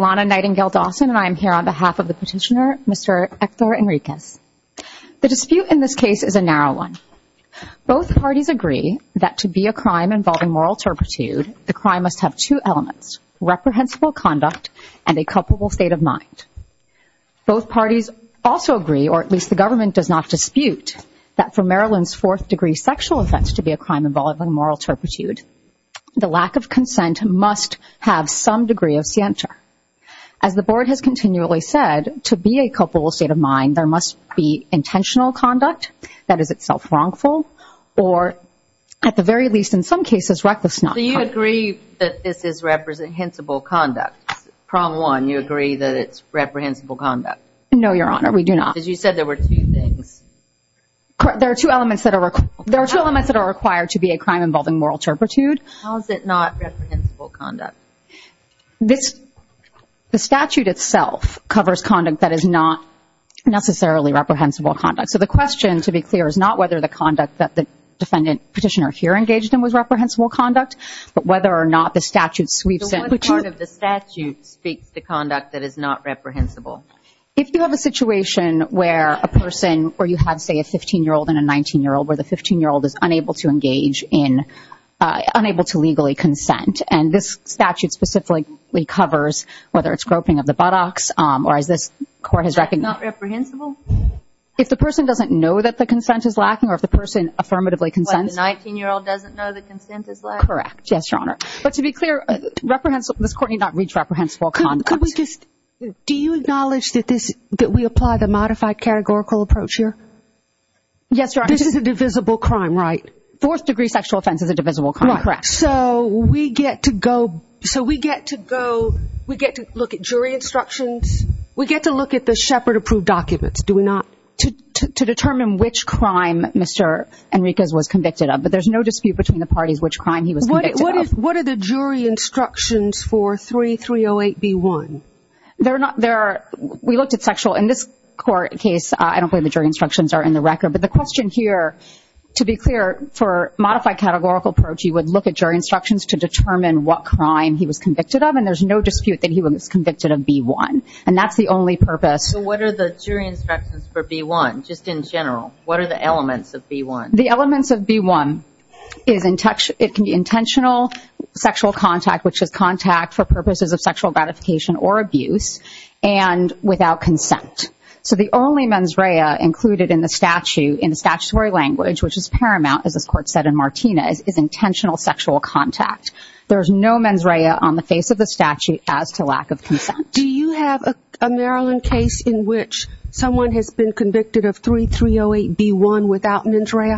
Alana Nightingale Dawson v. Ector Henriquez The dispute in this case is a narrow one. Both parties agree that to be a crime involving moral turpitude, the crime must have two elements, reprehensible conduct and a culpable state of mind. Both parties also agree, or at least the government does not dispute, that for Maryland's fourth degree sexual offense to be a crime involving moral turpitude, the lack of consent must have some degree of scienter. As the board has continually said, to be a culpable state of mind, there must be intentional conduct that is itself wrongful, or at the very least, in some cases, reckless not. Do you agree that this is reprehensible conduct? Problem one, you agree that it's reprehensible conduct? No, Your Honor, we do not. Because you said there were two things. There are two elements that are required to be a crime involving moral turpitude. How is it not reprehensible conduct? The statute itself covers conduct that is not necessarily reprehensible conduct. So the question, to be clear, is not whether the conduct that the defendant petitioner here engaged in was reprehensible conduct, but whether or not the statute sweeps in. So what part of the statute speaks to conduct that is not reprehensible? If you have a situation where a person, where you have, say, a 15-year-old and a 19-year-old, where the 15-year-old is unable to engage in, unable to legally consent, and this statute specifically covers whether it's groping of the buttocks, or as this court has recognized not reprehensible? If the person doesn't know that the consent is lacking, or if the person affirmatively consents. But the 19-year-old doesn't know the consent is lacking? Correct. Yes, Your Honor. But to be clear, this court need not reach reprehensible conduct. Do you acknowledge that we apply the modified categorical approach here? Yes, Your Honor. This is a divisible crime, right? Fourth degree sexual offense is a divisible crime, correct. So we get to go, so we get to go, we get to look at jury instructions, we get to look at the Shepard-approved documents, do we not, to determine which crime Mr. Enriquez was convicted of. But there's no dispute between the parties which crime he was convicted of. What are the jury instructions for 3308B1? They're not, they're, we looked at sexual, in this court case, I don't believe the jury instructions are in the record, but the question here, to be clear, for modified categorical approach, you would look at jury instructions to determine what crime he was convicted of, and there's no dispute that he was convicted of B1. And that's the only purpose. So what are the jury instructions for B1, just in general? What are the elements of B1? The elements of B1 is intentional sexual contact, which is contact for purposes of sexual gratification or abuse, and without consent. So the only mens rea included in the statute, statutory language, which is paramount, as this court said in Martinez, is intentional sexual contact. There's no mens rea on the face of the statute as to lack of consent. Do you have a Maryland case in which someone has been convicted of 3308B1 without mens rea?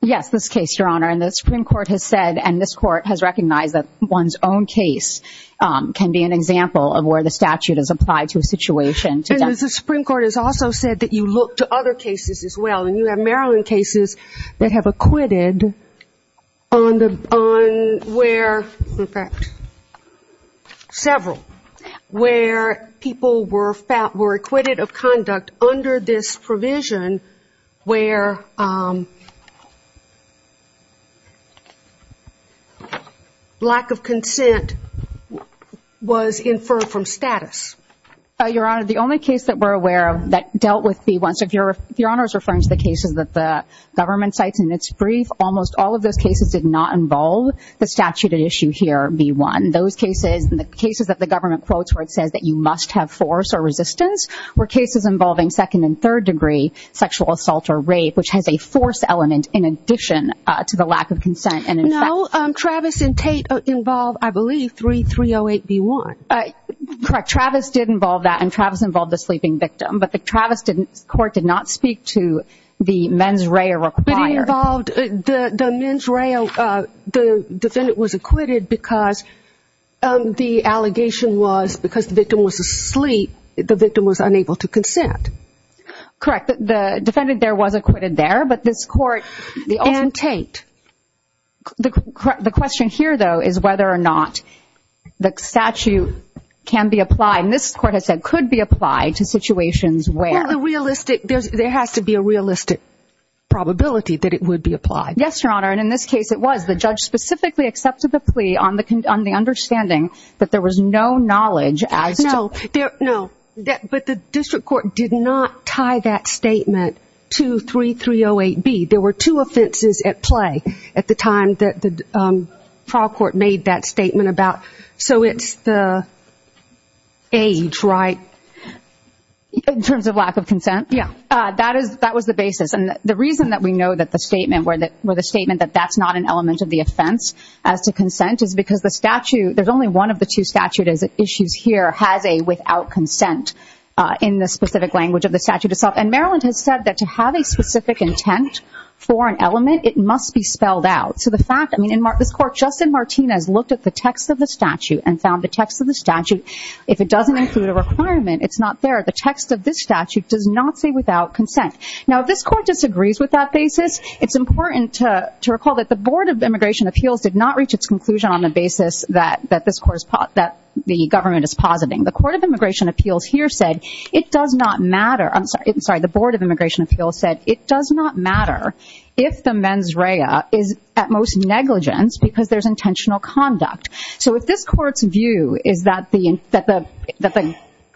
Yes, this case, Your Honor, and the Supreme Court has said, and this court has recognized that one's own case can be an example of where the statute is applied to a situation. And the Supreme Court has also said that you have Maryland cases that have acquitted on where, in fact, several, where people were acquitted of conduct under this provision where lack of consent was inferred from status. Your Honor, the only case that we're aware of that dealt with B1, so if Your Honor is referring to the cases that the government cites in its brief, almost all of those cases did not involve the statute at issue here, B1. Those cases, the cases that the government quotes where it says that you must have force or resistance were cases involving second and third degree sexual assault or rape, which has a force element in addition to the lack of consent. No, Travis and Tate involve, I believe, 3308B1. Correct, Travis did involve that and Travis involved the sleeping victim, but the Travis didn't, the court did not speak to the mens rea required. But it involved, the mens rea, the defendant was acquitted because the allegation was because the victim was asleep, the victim was unable to consent. Correct, the defendant there was acquitted there, but this court, and Tate, the question here, though, is whether or not the statute can be applied, and this court has said could be applied to situations where... Well, the realistic, there has to be a realistic probability that it would be applied. Yes, Your Honor, and in this case it was. The judge specifically accepted the plea on the understanding that there was no knowledge as to... No, but the district court did not tie that statement to 3308B. There were two offenses at play at the time that the trial court made that statement about, so it's the age, right? In terms of lack of consent? Yes. That was the basis, and the reason that we know that the statement where the statement that that's not an element of the offense as to consent is because the statute, there's only one of the two statute issues here has a without consent in the specific language of the statute itself, and Maryland has said that to have a specific intent for an element it must be spelled out, so the fact, I mean, this court, Justin Martinez, looked at the text of the statute and found the text of the statute, if it doesn't include a requirement, it's not there. The text of this statute does not say without consent. Now, if this court disagrees with that basis, it's important to recall that the Board of Immigration Appeals did not reach its conclusion on the basis that this court, that the government is positing. The Court of Immigration Appeals here said it does not matter, I'm sorry, the Board of Immigration Appeals is at most negligence because there's intentional conduct, so if this court's view is that the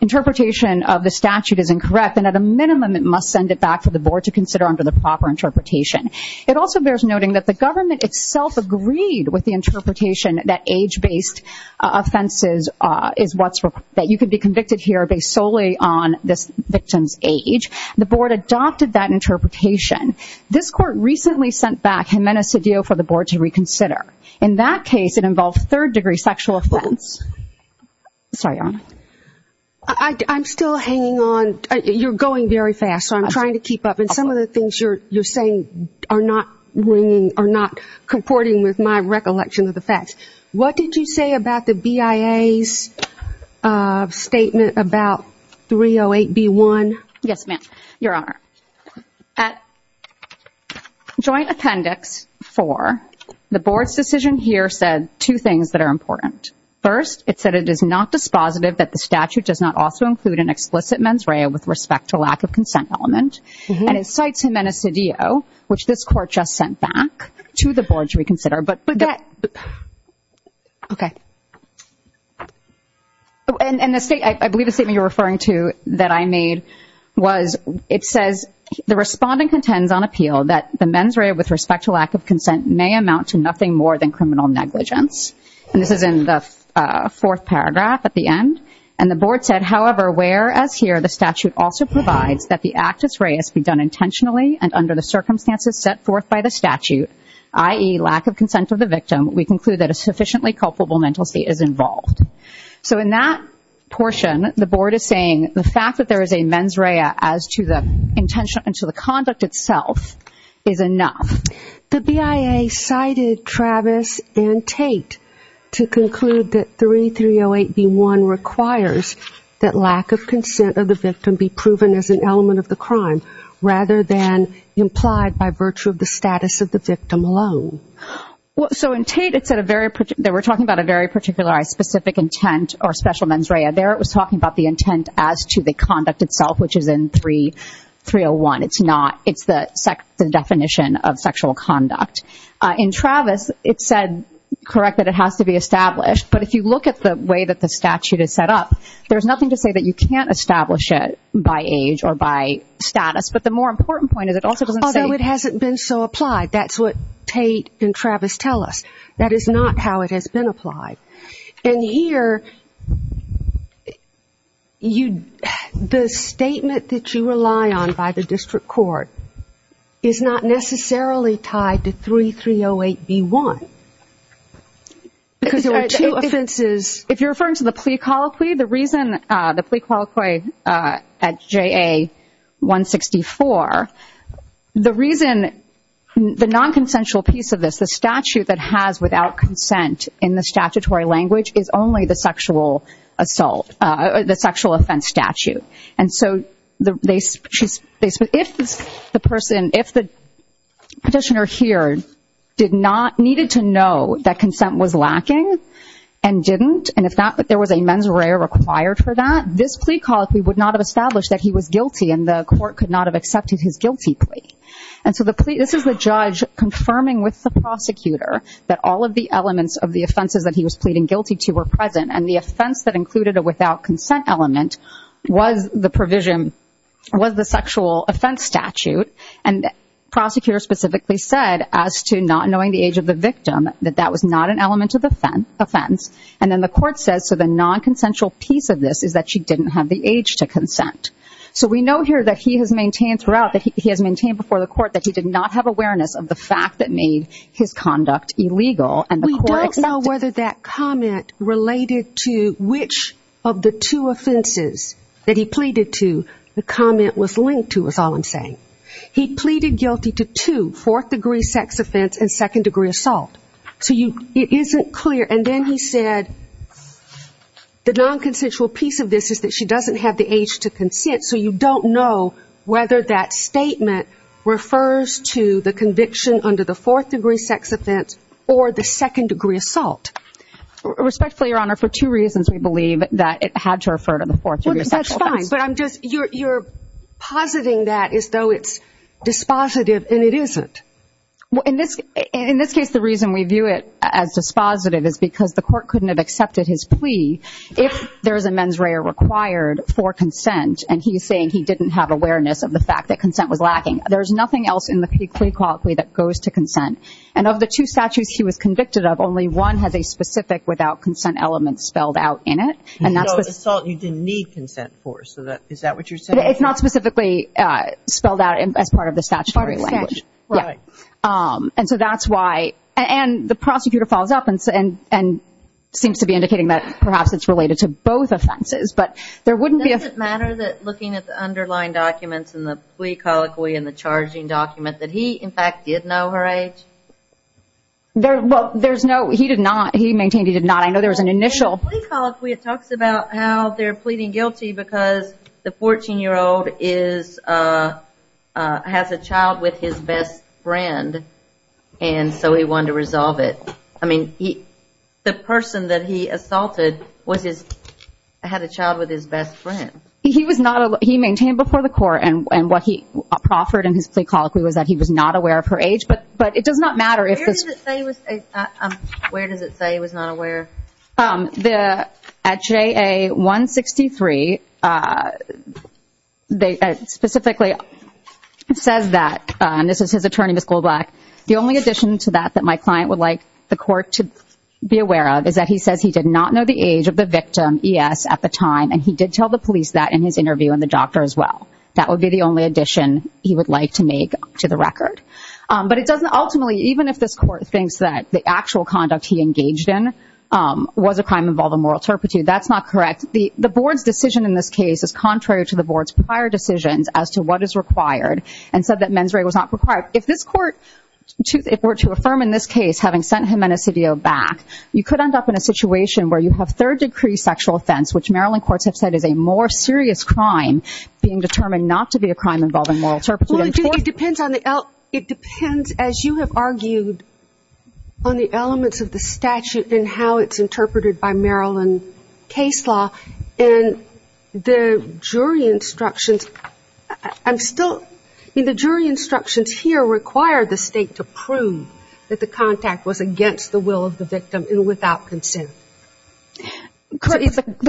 interpretation of the statute is incorrect, then at a minimum it must send it back to the Board to consider under the proper interpretation. It also bears noting that the government itself agreed with the interpretation that age-based offenses is what's, that you could be convicted here based solely on this victim's age. The Board adopted that interpretation. This court recently sent back Jimenez-Cedillo for the Board to reconsider. In that case, it involved third-degree sexual offense. Sorry, Your Honor. I'm still hanging on. You're going very fast, so I'm trying to keep up, and some of the things you're saying are not ringing, are not comporting with my recollection of the facts. What did you say about the BIA's statement about 308B1? Yes, ma'am. Your Honor, at joint appendix four, the Board's decision here said two things that are important. First, it said it is not dispositive that the statute does not also include an explicit mens rea with respect to lack of consent element, and it cites Jimenez-Cedillo, which this court just sent back to the Board to reconsider. But that, okay. And the state, I believe the statement you're referring to that I made was, it says the respondent contends on appeal that the mens rea with respect to lack of consent may amount to nothing more than criminal negligence. And this is in the fourth paragraph at the end. And the Board said, however, whereas here the statute also provides that the actus reis be done intentionally and under the circumstances set forth by the statute, i.e., lack of consent of the victim, we conclude that a sufficiently culpable mental state is involved. So in that portion, the Board is saying the fact that there is a mens rea as to the intention and to the conduct itself is enough. The BIA cited Travis and Tate to conclude that 3308B1 requires that lack of consent of the victim be proven as an element of the crime rather than implied by virtue of the status of the victim alone. Well, so in Tate, it said a very, they were talking about a very particularized specific intent or special mens rea. There it was talking about the intent as to the conduct itself, which is in 301. It's not, it's the definition of sexual conduct. In Travis, it said, correct that it has to be established. But if you look at the way that the statute is set up, there's nothing to say that you can't establish it by age or by status. But the more important point is it also doesn't say. Although it hasn't been so applied. That's what Tate and Travis tell us. That is not how it has been applied. And here, the statement that you rely on by the district court is not necessarily tied to 3308B1. Because there are two offenses. If you're referring to the plea colloquy, the reason the plea colloquy at JA164, the reason, the nonconsensual piece of this, the statute that has without consent in the statutory language is only the sexual assault, the sexual offense statute. And so they, if the person, if the petitioner here did not, needed to know that consent was lacking and didn't, and if there was a mens rea required for that, this plea colloquy would not have established that he was guilty and the court could not have accepted his guilty plea. And so the plea, this is the judge confirming with the prosecutor that all of the elements of the offenses that he was pleading guilty to were present. And the offense that included a without consent element was the provision, was the sexual offense statute. And the prosecutor specifically said as to not knowing the age of the victim, that that was not an element of the offense. And then the court says, so the nonconsensual piece of this is that she didn't have the age to consent. So we know here that he has maintained throughout, that he has maintained before the court that he did not have awareness of the fact that made his conduct illegal. We don't know whether that comment related to which of the two offenses that he pleaded to, the comment was linked to is all I'm saying. He pleaded guilty to two, fourth degree sex offense and second degree assault. So you, it isn't clear. And then he said the nonconsensual piece of this is that she doesn't have the age to consent. So you don't know whether that statement refers to the conviction under the fourth degree sex offense or the second degree assault. Respectfully, Your Honor, for two reasons, we believe that it had to refer to the fourth degree sexual offense. That's fine. But I'm just, you're, you're positing that as though it's dispositive and it isn't. Well, in this, in this case, the reason we view it as dispositive is because the court couldn't have accepted his plea if there is a mens rea required for consent. And he's saying he didn't have awareness of the fact that consent was lacking. There's nothing else in the plea quality that goes to consent. And of the two statutes he was convicted of, only one has a specific without consent element spelled out in it. And that's the assault you didn't need consent for. So that, is that what you're saying? It's not specifically spelled out as part of the statutory language. Part of the statute. Right. And so that's why, and the prosecutor follows up and, and, and seems to be indicating that perhaps it's related to both offenses, but there wouldn't be a Does it matter that looking at the underlying documents and the plea colloquy and the charging document that he, in fact, did know her age? There, well, there's no, he did not. He maintained he did not. I know there was an initial The plea colloquy, it talks about how they're pleading guilty because the 14 year old is, has a child with his best friend. And so he wanted to resolve it. I mean, he, the person that he assaulted was his, had a child with his best friend. He was not, he maintained before the court and, and what he proffered in his plea colloquy was that he was not aware of her age, but, but it does not matter if Where does it say he was, where does it say he was not aware? At JA 163, they specifically says that, and this is his attorney, Ms. Goldblatt, the only He says he did not know the age of the victim, ES, at the time, and he did tell the police that in his interview and the doctor as well. That would be the only addition he would like to make to the record. But it doesn't ultimately, even if this court thinks that the actual conduct he engaged in was a crime involving moral turpitude, that's not correct. The, the board's decision in this case is contrary to the board's prior decisions as to what is required and said that mens rea was not required. If this court were to affirm in this case, having sent him back, you could end up in a situation where you have third degree sexual offense, which Maryland courts have said is a more serious crime being determined not to be a crime involving moral turpitude. It depends on the, it depends, as you have argued, on the elements of the statute and how it's interpreted by Maryland case law and the jury instructions, I'm still, the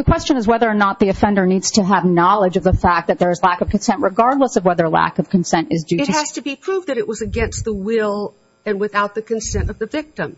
question is whether or not the offender needs to have knowledge of the fact that there's lack of consent, regardless of whether lack of consent is due to sex. It has to be proved that it was against the will and without the consent of the victim.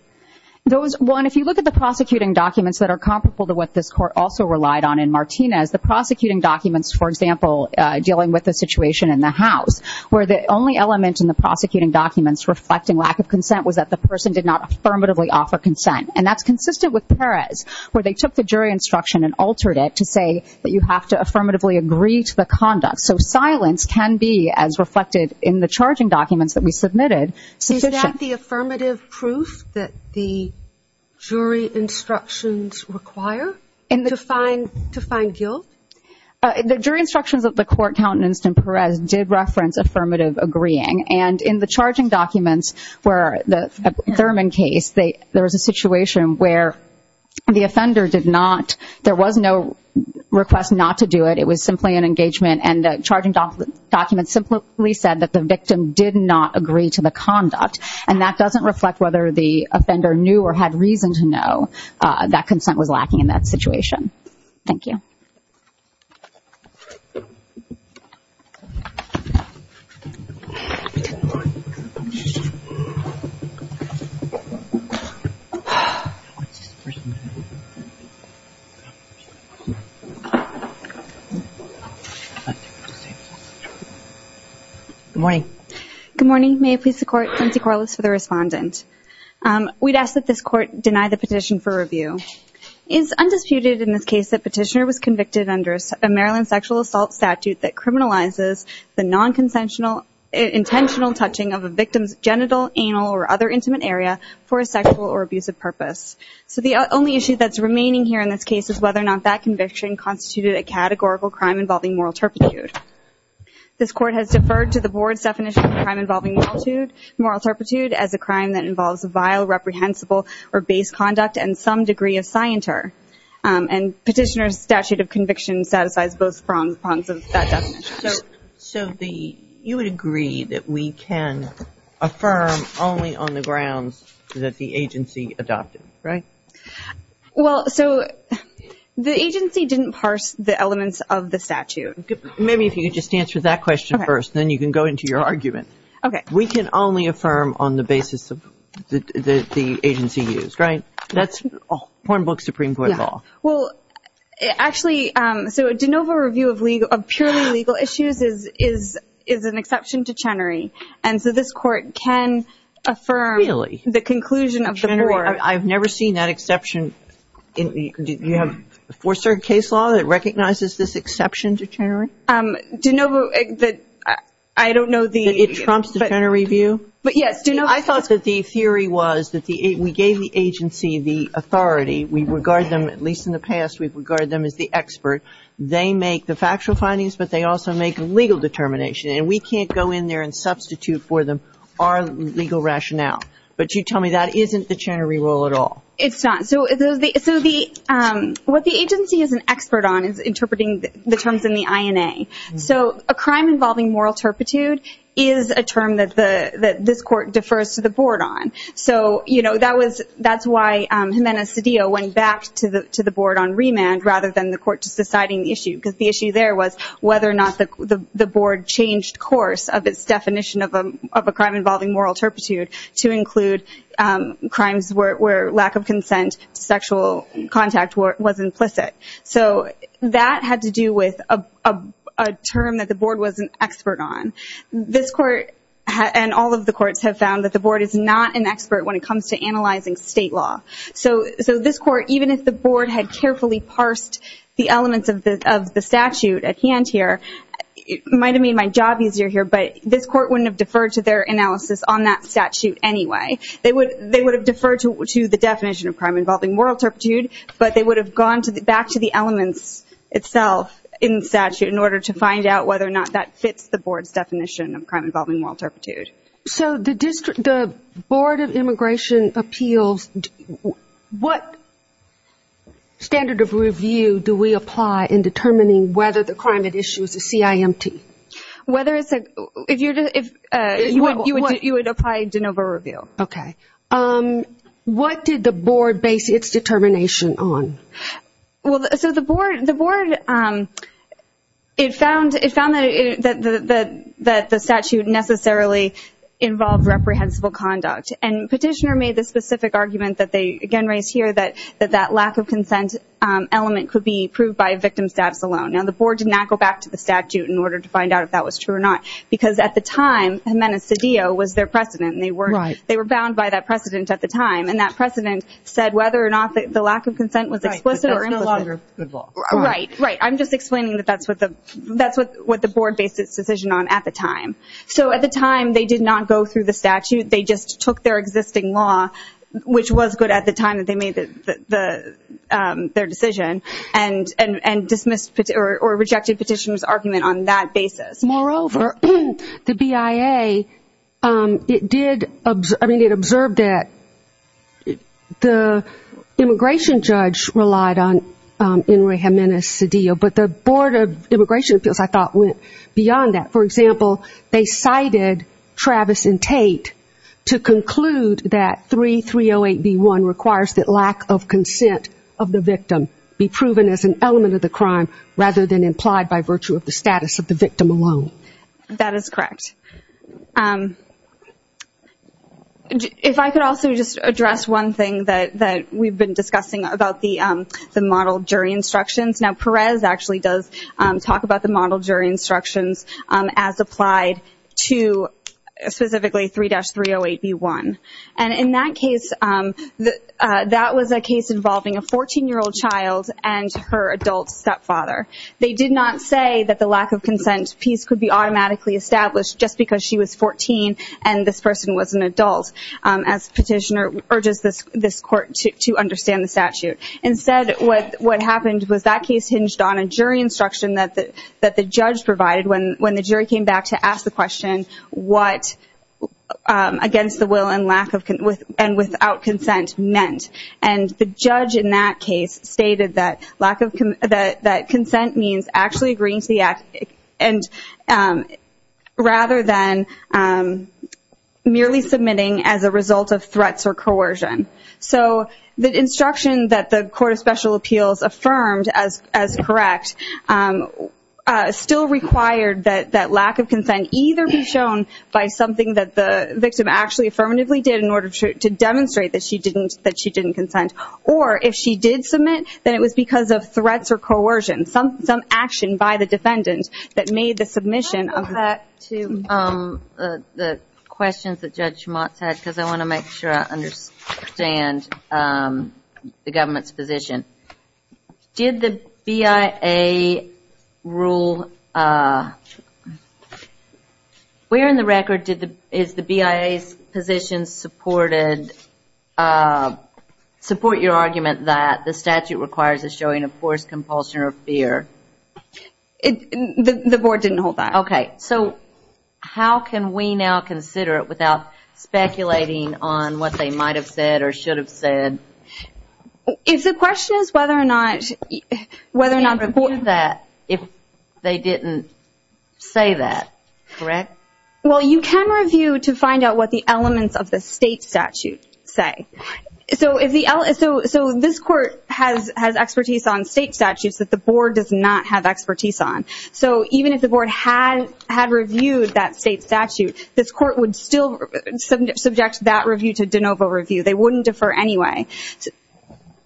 Those, well, and if you look at the prosecuting documents that are comparable to what this court also relied on in Martinez, the prosecuting documents, for example, dealing with the situation in the house, where the only element in the prosecuting documents reflecting lack of consent was that the person did not affirmatively offer consent. And that's consistent with Perez, where they took the jury instruction and altered it to say that you have to affirmatively agree to the conduct. So silence can be, as reflected in the charging documents that we submitted, sufficient. Is that the affirmative proof that the jury instructions require to find guilt? The jury instructions of the court countenanced in Perez did reference affirmative agreeing. And in the charging documents, where the Thurman case, there was a situation where the offender did not, there was no request not to do it. It was simply an engagement. And the charging documents simply said that the victim did not agree to the conduct. And that doesn't reflect whether the offender knew or had reason to know that consent was lacking in that situation. Thank you. Good morning. Good morning. May it please the Court, Lindsay Corliss for the Respondent. We'd ask that this Court deny the petition for review. It is undisputed in this case that Petitioner was convicted under a Maryland sexual assault statute that criminalizes the non-consensual, intentional touching of a victim's genital, anal, or other intimate area for a sexual or abusive purpose. So the only issue that's remaining here in this case is whether or not that conviction constituted a categorical crime involving moral turpitude. This Court has deferred to the Board's definition of a crime involving moral turpitude as a crime that involves vile, reprehensible, or base conduct and some degree of scienter. And Petitioner's statute of conviction satisfies both prongs of that definition. So the, you would agree that we can affirm only on the grounds that the agency adopted it, right? Well, so the agency didn't parse the elements of the statute. Maybe if you could just answer that question first, then you can go into your argument. Okay. We can only affirm on the basis of the agency used, right? That's Pornbook Supreme Court law. Well, actually, so a de novo review of purely legal issues is an exception to Chenery. And so this Court can affirm the conclusion of the board. Really? I've never seen that exception. Do you have a fourth-circuit case law that recognizes this exception to Chenery? De novo, I don't know the... That trumps the Chenery view? Yes. I thought that the theory was that we gave the agency the authority. We regard them, at least in the past, we regard them as the expert. They make the factual findings, but they also make legal determination. And we can't go in there and substitute for them our legal rationale. But you tell me that isn't the Chenery rule at all. It's not. So what the agency is an expert on is interpreting the terms in the INA. So a crime involving moral turpitude is a term that this Court defers to the board on. So that's why Jimenez-Cedillo went back to the board on remand rather than the Court just deciding the issue. Because the issue there was whether or not the board changed course of its definition of a crime involving moral turpitude to include crimes where lack of the board was an expert on. This Court and all of the courts have found that the board is not an expert when it comes to analyzing state law. So this Court, even if the board had carefully parsed the elements of the statute at hand here, it might have made my job easier here, but this Court wouldn't have deferred to their analysis on that statute anyway. They would have deferred to the definition of crime involving moral turpitude, but they would have gone back to the elements itself in the statute in order to find out whether or not that fits the board's definition of crime involving moral turpitude. So the Board of Immigration Appeals, what standard of review do we apply in determining whether the crime at issue is a CIMT? You would apply de novo review. Okay. What did the board base its determination on? Well, so the board, it found that the statute necessarily involved reprehensible conduct. And Petitioner made the specific argument that they again raised here that that lack of consent element could be proved by victim status alone. Now the board did not go back to the statute in order to find out if that was true or not, because at the time, Jimenez-Cedillo was their precedent at the time, and that precedent said whether or not the lack of consent was explicit or implicit. Right. I'm just explaining that that's what the board based its decision on at the time. So at the time, they did not go through the statute. They just took their existing law, which was good at the time that they made their decision, and dismissed or rejected Petitioner's argument on that basis. Moreover, the BIA, it did, I mean, it observed that the immigration judge relied on Enrique Jimenez-Cedillo, but the Board of Immigration Appeals, I thought, went beyond that. For example, they cited Travis and Tate to conclude that 3308B1 requires that lack of consent of the victim be proven as an element of the crime rather than implied by virtue of the status of the victim alone. That is correct. If I could also just address one thing that we've been discussing about the model jury instructions. Now, Perez actually does talk about the model jury instructions as applied to specifically 3-308B1. And in that case, that was a case involving a 14-year-old child and her adult stepfather. They did not say that the lack of consent piece could be automatically established just because she was 14 and this person was an adult, as Petitioner urges this court to understand the statute. Instead, what happened was that case hinged on a jury instruction that the judge provided when the jury came back to ask the question, what against the will and without consent meant. And the judge in that case stated that consent means actually agreeing to the act rather than merely submitting as a result of threats or coercion. So the instruction that the Court of Special Appeals affirmed as correct still required that lack of consent either be shown by something that the victim actually affirmatively did in order to demonstrate that she didn't consent. Or if she did submit, then it was because of threats or coercion, some action by the defendant that made the submission. I want to go back to the questions that Judge Schmatz had because I want to make sure I Where in the record is the BIA's position supported, support your argument that the statute requires a showing of forced compulsion or fear? The board didn't hold that. Okay. So how can we now consider it without speculating on what they might have said or should have said? If the question is whether or not If they didn't say that, correct? Well, you can review to find out what the elements of the state statute say. So this court has expertise on state statutes that the board does not have expertise on. So even if the board had reviewed that state statute, this court would still subject that review to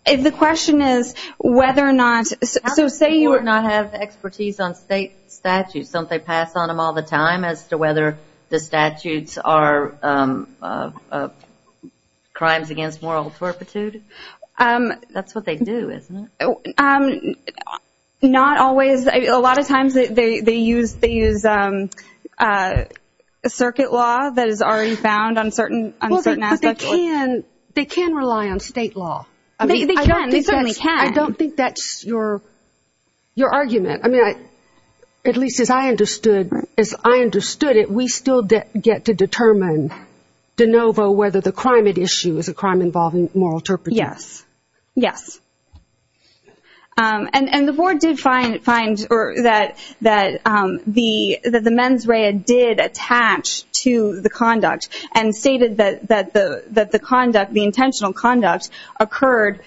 If the question is whether or not So say you would not have expertise on state statutes, don't they pass on them all the time as to whether the statutes are crimes against moral turpitude? That's what they do, isn't it? Not always. A lot of times they use circuit law that is already found on certain aspects. They can rely on state law. They certainly can. I don't think that's your argument. At least as I understood it, we still get to determine de novo whether the crime at issue is a crime involving moral turpitude. Yes. Yes. And the board did find that the mens rea did attach to the conduct and stated that the conduct, the intentional conduct, occurred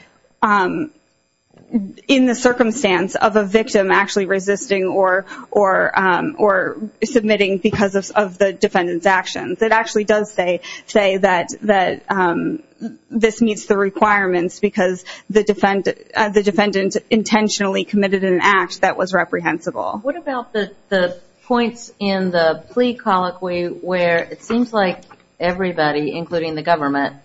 in the circumstance of a victim actually resisting or submitting because of the defendant's actions. It actually does say that this meets the requirements because the defendant intentionally committed an act that was reprehensible. What about the points in the plea colloquy where it seems like everybody, including the government,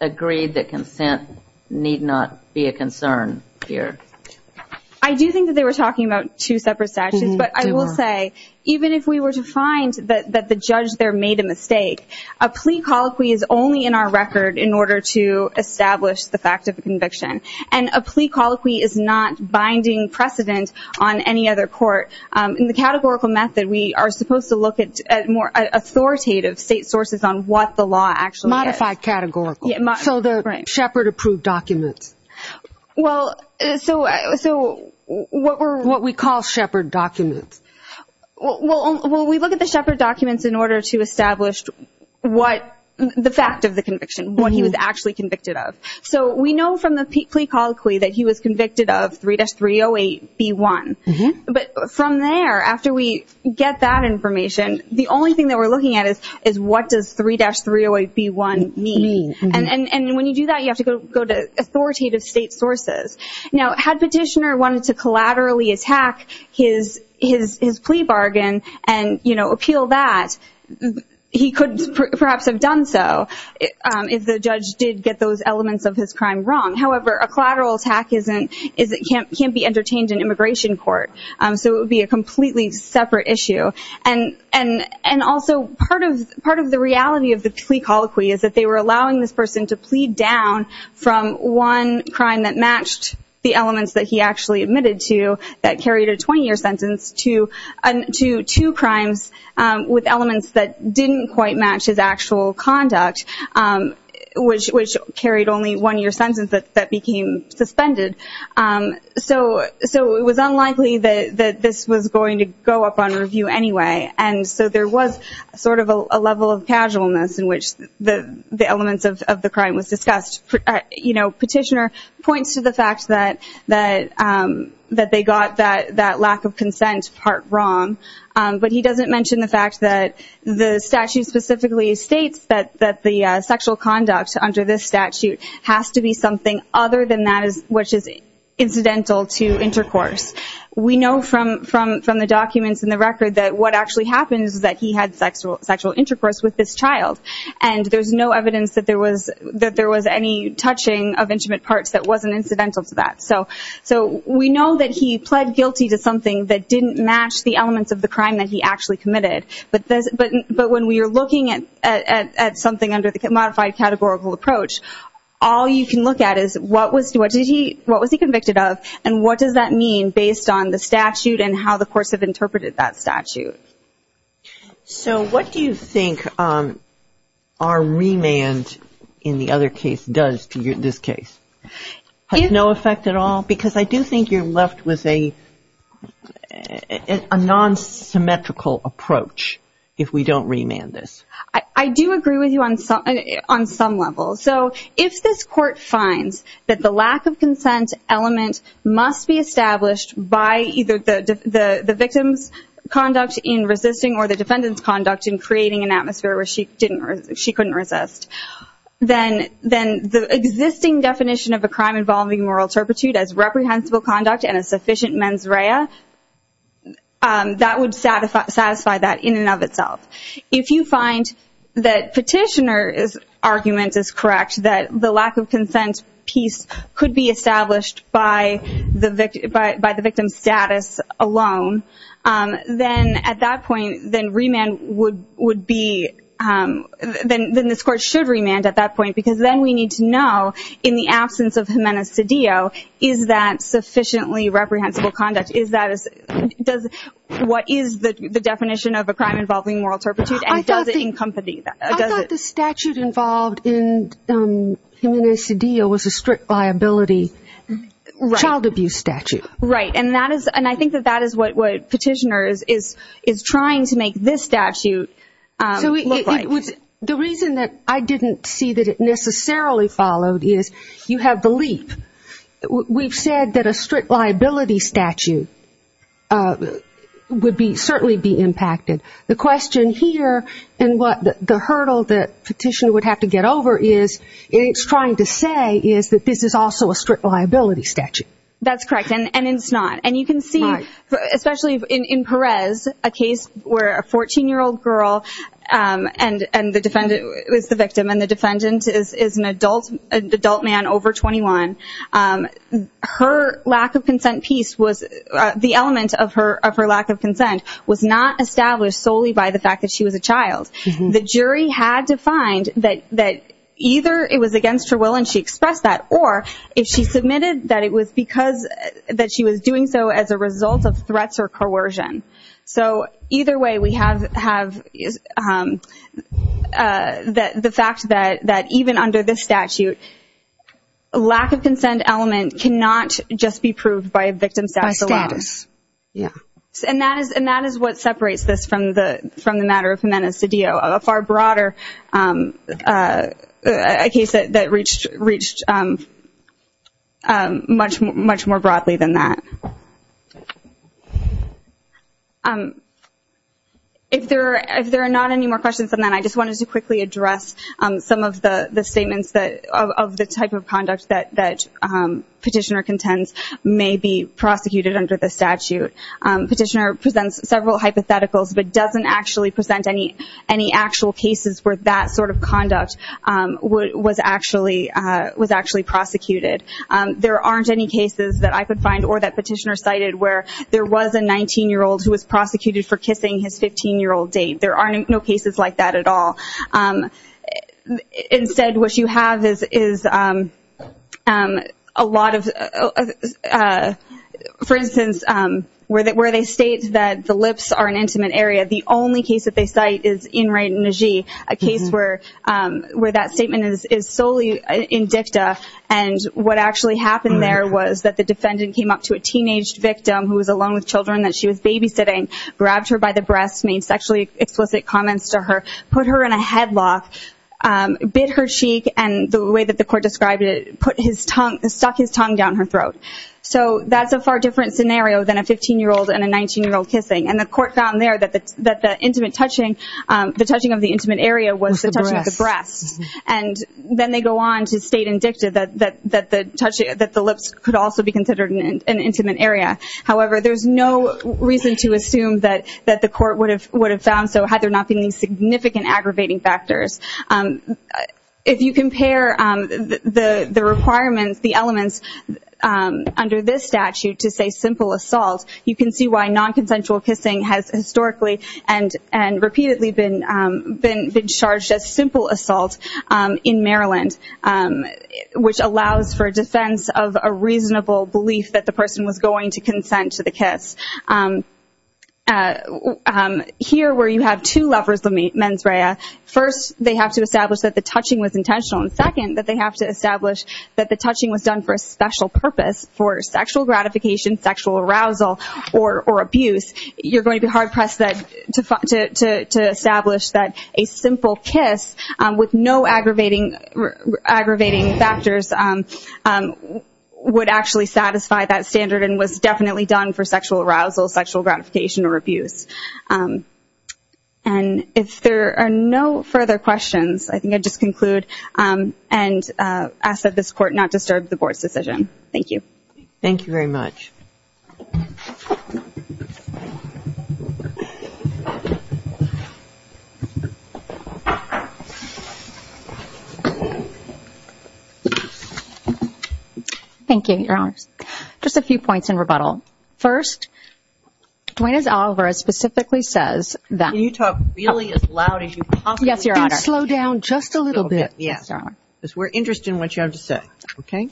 agreed that consent need not be a concern here? I do think that they were talking about two separate statutes. But I will say, even if we were to find that the judge there made a mistake, a plea colloquy is only in our record in order to establish the fact of a conviction. And a plea colloquy is not binding precedent on any other court. In the categorical method, we are supposed to look at more authoritative state sources on what the law actually is. Modified categorical. So the Shepard-approved documents. Well, so what we call Shepard documents. Well, we look at the Shepard documents in order to establish the fact of the conviction, what he was actually convicted of. So we know from the plea colloquy that he was convicted of 3-308B1. But from there, after we get that information, the only thing that we're looking at is what does 3-308B1 mean. And when you do that, you have to go to authoritative state sources. Now, had Petitioner wanted to collaterally attack his plea bargain and appeal that, he could perhaps have done so if the judge did get those elements of his crime wrong. However, a collateral attack can't be entertained in immigration court. So it would be a completely separate issue. And also, part of the reality of the plea colloquy is that they were allowing this person to plead down from one crime that matched the elements that he actually admitted to, that carried a 20-year sentence, to two crimes with elements that didn't quite match his actual conduct, which carried only one year sentence that became suspended. So it was unlikely that this was going to go up on review anyway. And so there was sort of a level of casualness in which the elements of the crime was discussed. Petitioner points to the fact that they got that lack of consent part wrong. But he doesn't mention the fact that the statute specifically states that the sexual conduct under this statute has to be something other than that which is incidental to intercourse. We know from the documents in the record that what actually happens is that he had sexual intercourse with this child. And there's no evidence that there was any touching of intimate parts that wasn't incidental to that. So we know that he pled guilty to something that didn't match the elements of the crime that he actually committed. But when we are looking at something under the modified categorical approach, all you can look at is what was he convicted of and what does that mean based on the statute and how the courts have interpreted that statute. So what do you think our remand in the other case does to this case? Has no effect at all? Because I do think you're left with a non-symmetrical approach if we don't remand this. I do agree with you on some levels. So if this court finds that the lack of consent element must be established by either the victim's conduct in resisting or the defendant's conduct in creating an atmosphere where she couldn't resist, then the existing definition of a crime involving moral turpitude as reprehensible conduct and a sufficient mens rea, that would satisfy that in and of itself. If you find that petitioner's argument is correct, that the lack of consent piece could be established by the victim's status alone, then at that point, then remand would be, then this court should remand at that point because then we need to know in the absence of humana sedio, is that sufficiently reprehensible conduct? What is the definition of a crime involving moral turpitude and does it encompass that? I thought the statute involved in humana sedio was a strict liability child abuse statute. Right, and I think that that is what petitioner is trying to make this statute look like. The reason that I didn't see that it necessarily followed is you have the leap. We've said that a strict liability statute would certainly be impacted. The question here and what the hurdle that petitioner would have to get over is, it's trying to say is that this is also a strict liability statute. That's correct and it's not. You can see, especially in Perez, a case where a 14-year-old girl and the defendant is the victim and the defendant is an adult man over 21, her lack of consent piece was, the element of her lack of consent was not established solely by the fact that she was a child. The jury had to find that either it was against her will and she expressed that or if she submitted that it was because she was doing so as a result of threats or coercion. So either way, we have the fact that even under this statute, a lack of consent element cannot just be proved by a victim status alone. By status, yeah. And that is what separates this from the matter of humana sedio, a far broader case that reached much more broadly than that. If there are not any more questions on that, I just wanted to quickly address some of the statements of the type of conduct that petitioner contends may be prosecuted under the statute. Petitioner presents several hypotheticals but doesn't actually present any actual cases where that sort of conduct was actually prosecuted. There aren't any cases that I could find or that petitioner cited where there was a 19-year-old who was prosecuted for kissing his 15-year-old date. There are no cases like that at all. Instead, what you have is a lot of, for instance, where they state that the lips are an intimate area, the only case that they cite is In-Rae Najee, a case where that statement is solely in dicta and what actually happened there was that the defendant came up to a teenage victim who was alone with children that she was babysitting, grabbed her by the breasts, made sexually explicit comments to her, put her in a headlock, bit her cheek, and the way that the court described it, stuck his tongue down her throat. So that's a far different scenario than a 15-year-old and a 19-year-old kissing. And the court found there that the touching of the intimate area was the touching of the breasts. And then they go on to state in dicta that the lips could also be considered an intimate area. However, there's no reason to assume that the court would have found so had there not been these significant aggravating factors. If you compare the requirements, the elements under this statute to say simple assault, you can see why non-consensual kissing has historically and repeatedly been charged as simple assault in Maryland, which allows for defense of a reasonable belief that the person was going to consent to the kiss. Here, where you have two levers of mens rea, first, they have to establish that the touching was intentional, and second, that they have to establish that the touching was done for a special purpose, for sexual gratification, sexual arousal, or abuse. You're going to be hard-pressed to establish that a simple kiss, with no aggravating factors, would actually satisfy that standard and was definitely done for sexual arousal, sexual gratification, or abuse. And if there are no further questions, I think I'd just conclude and ask that this Court not disturb the Board's decision. Thank you. Thank you very much. Thank you, Your Honors. Just a few points in rebuttal. First, Duane A. Alvarez specifically says that... Can you talk really as loud as you possibly can? Yes, Your Honor. And slow down just a little bit. Yes, Your Honor. Because we're interested in what you have to say. Okay.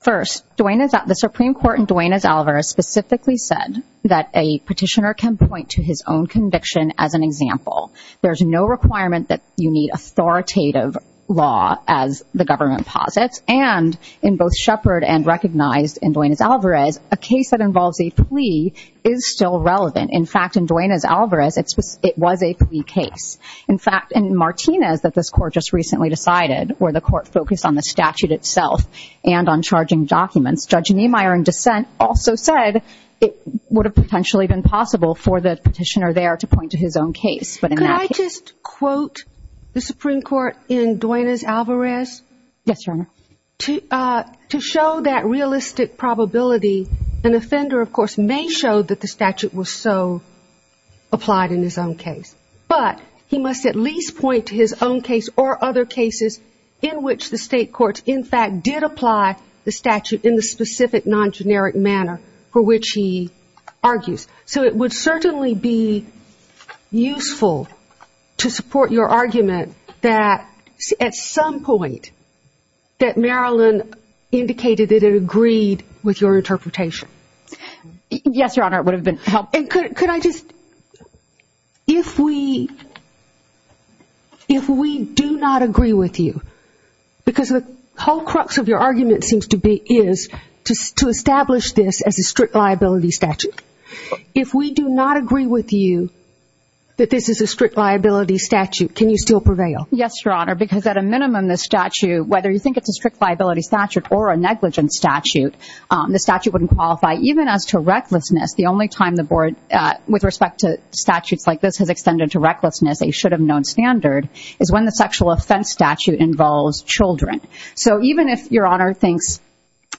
First, the Supreme Court in Duane A. Alvarez specifically said that a petitioner can point to his own conviction as an example. There's no requirement that you need authoritative law, as the government posits, and in both Shepard and recognized in Duane A. Alvarez, a case that involves a plea is still relevant. In fact, in Duane A. Alvarez, it was a plea case. In fact, in Martinez, that this Court just recently decided, where the Court focused on the statute itself and on charging documents, Judge Niemeyer in dissent also said it would have potentially been possible for the petitioner there to point to his own case. Could I just quote the Supreme Court in Duane A. Alvarez? Yes, Your Honor. To show that realistic probability, an offender, of course, may show that the statute was so applied in his own case. But he must at least point to his own case or other cases in which the state courts, in fact, did apply the statute in the specific non-generic manner for which he argues. So it would certainly be useful to support your argument that at some point that Marilyn indicated that it agreed with your interpretation. Yes, Your Honor, it would have been helpful. And could I just, if we do not agree with you, because the whole crux of your argument seems to be, is to establish this as a strict liability statute. If we do not agree with you that this is a strict liability statute, can you still prevail? Yes, Your Honor, because at a minimum this statute, whether you think it's a strict liability statute or a negligence statute, the statute wouldn't qualify. Even as to recklessness, the only time the board, with respect to statutes like this, has extended to recklessness, a should have known standard, is when the sexual offense statute involves children. So even if Your Honor thinks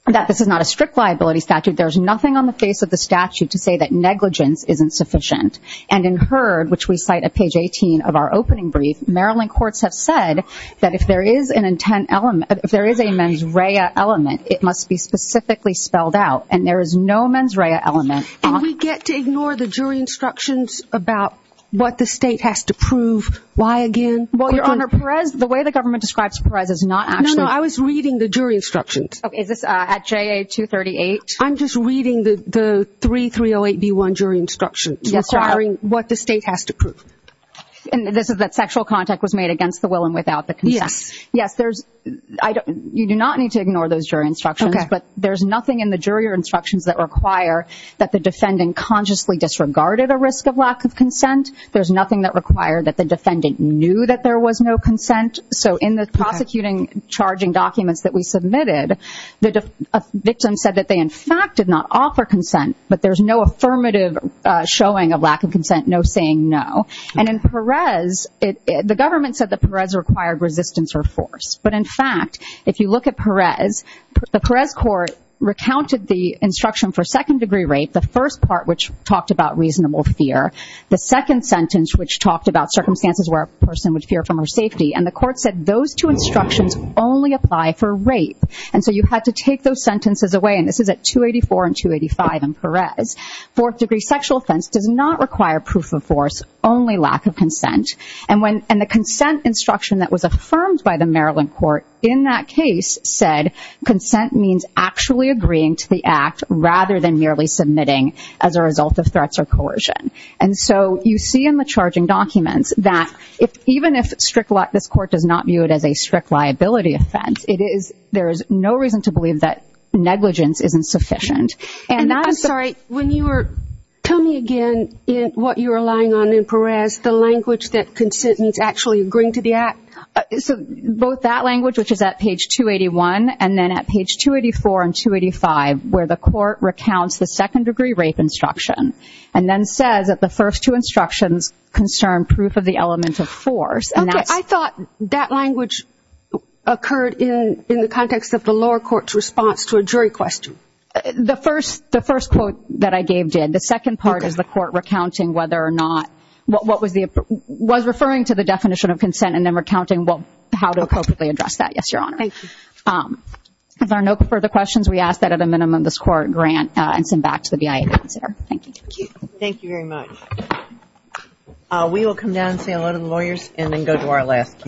that this is not a strict liability statute, there's nothing on the face of the statute to say that negligence isn't sufficient. And in Herd, which we cite at page 18 of our opening brief, Marilyn courts have said that if there is a mens rea element, it must be specifically spelled out. And there is no mens rea element. And we get to ignore the jury instructions about what the state has to prove, why again? Well, Your Honor, Perez, the way the government describes Perez is not actually. No, no, I was reading the jury instructions. Is this at JA 238? I'm just reading the 3308B1 jury instructions. Yes, Your Honor. Requiring what the state has to prove. And this is that sexual contact was made against the will and without the consent. Yes. Yes, you do not need to ignore those jury instructions. Okay. But there's nothing in the jury instructions that require that the defendant consciously disregarded a risk of lack of consent. There's nothing that required that the defendant knew that there was no consent. So in the prosecuting charging documents that we submitted, the victim said that they in fact did not offer consent, but there's no affirmative showing of lack of consent, no saying no. And in Perez, the government said that Perez required resistance or force. But in fact, if you look at Perez, the Perez court recounted the instruction for second-degree rape, the first part which talked about reasonable fear, the second sentence which talked about circumstances where a person would fear from her safety, and the court said those two instructions only apply for rape. And so you had to take those sentences away. And this is at 284 and 285 in Perez. Fourth-degree sexual offense does not require proof of force, only lack of consent. And the consent instruction that was affirmed by the Maryland court in that case said consent means actually agreeing to the act rather than merely submitting as a result of threats or coercion. And so you see in the charging documents that even if this court does not view it as a strict liability offense, there is no reason to believe that negligence isn't sufficient. I'm sorry, tell me again what you were relying on in Perez, the language that consent means actually agreeing to the act? Both that language, which is at page 281, and then at page 284 and 285, where the court recounts the second-degree rape instruction and then says that the first two instructions concern proof of the element of force. Okay. I thought that language occurred in the context of the lower court's response to a jury question. The first quote that I gave did. The second part is the court recounting whether or not what was referring to the definition of consent and then recounting how to appropriately address that. Yes, Your Honor. Thank you. If there are no further questions, we ask that at a minimum this Court grant and send back to the BIA to consider. Thank you. Thank you very much. We will come down and say hello to the lawyers and then go to our last case.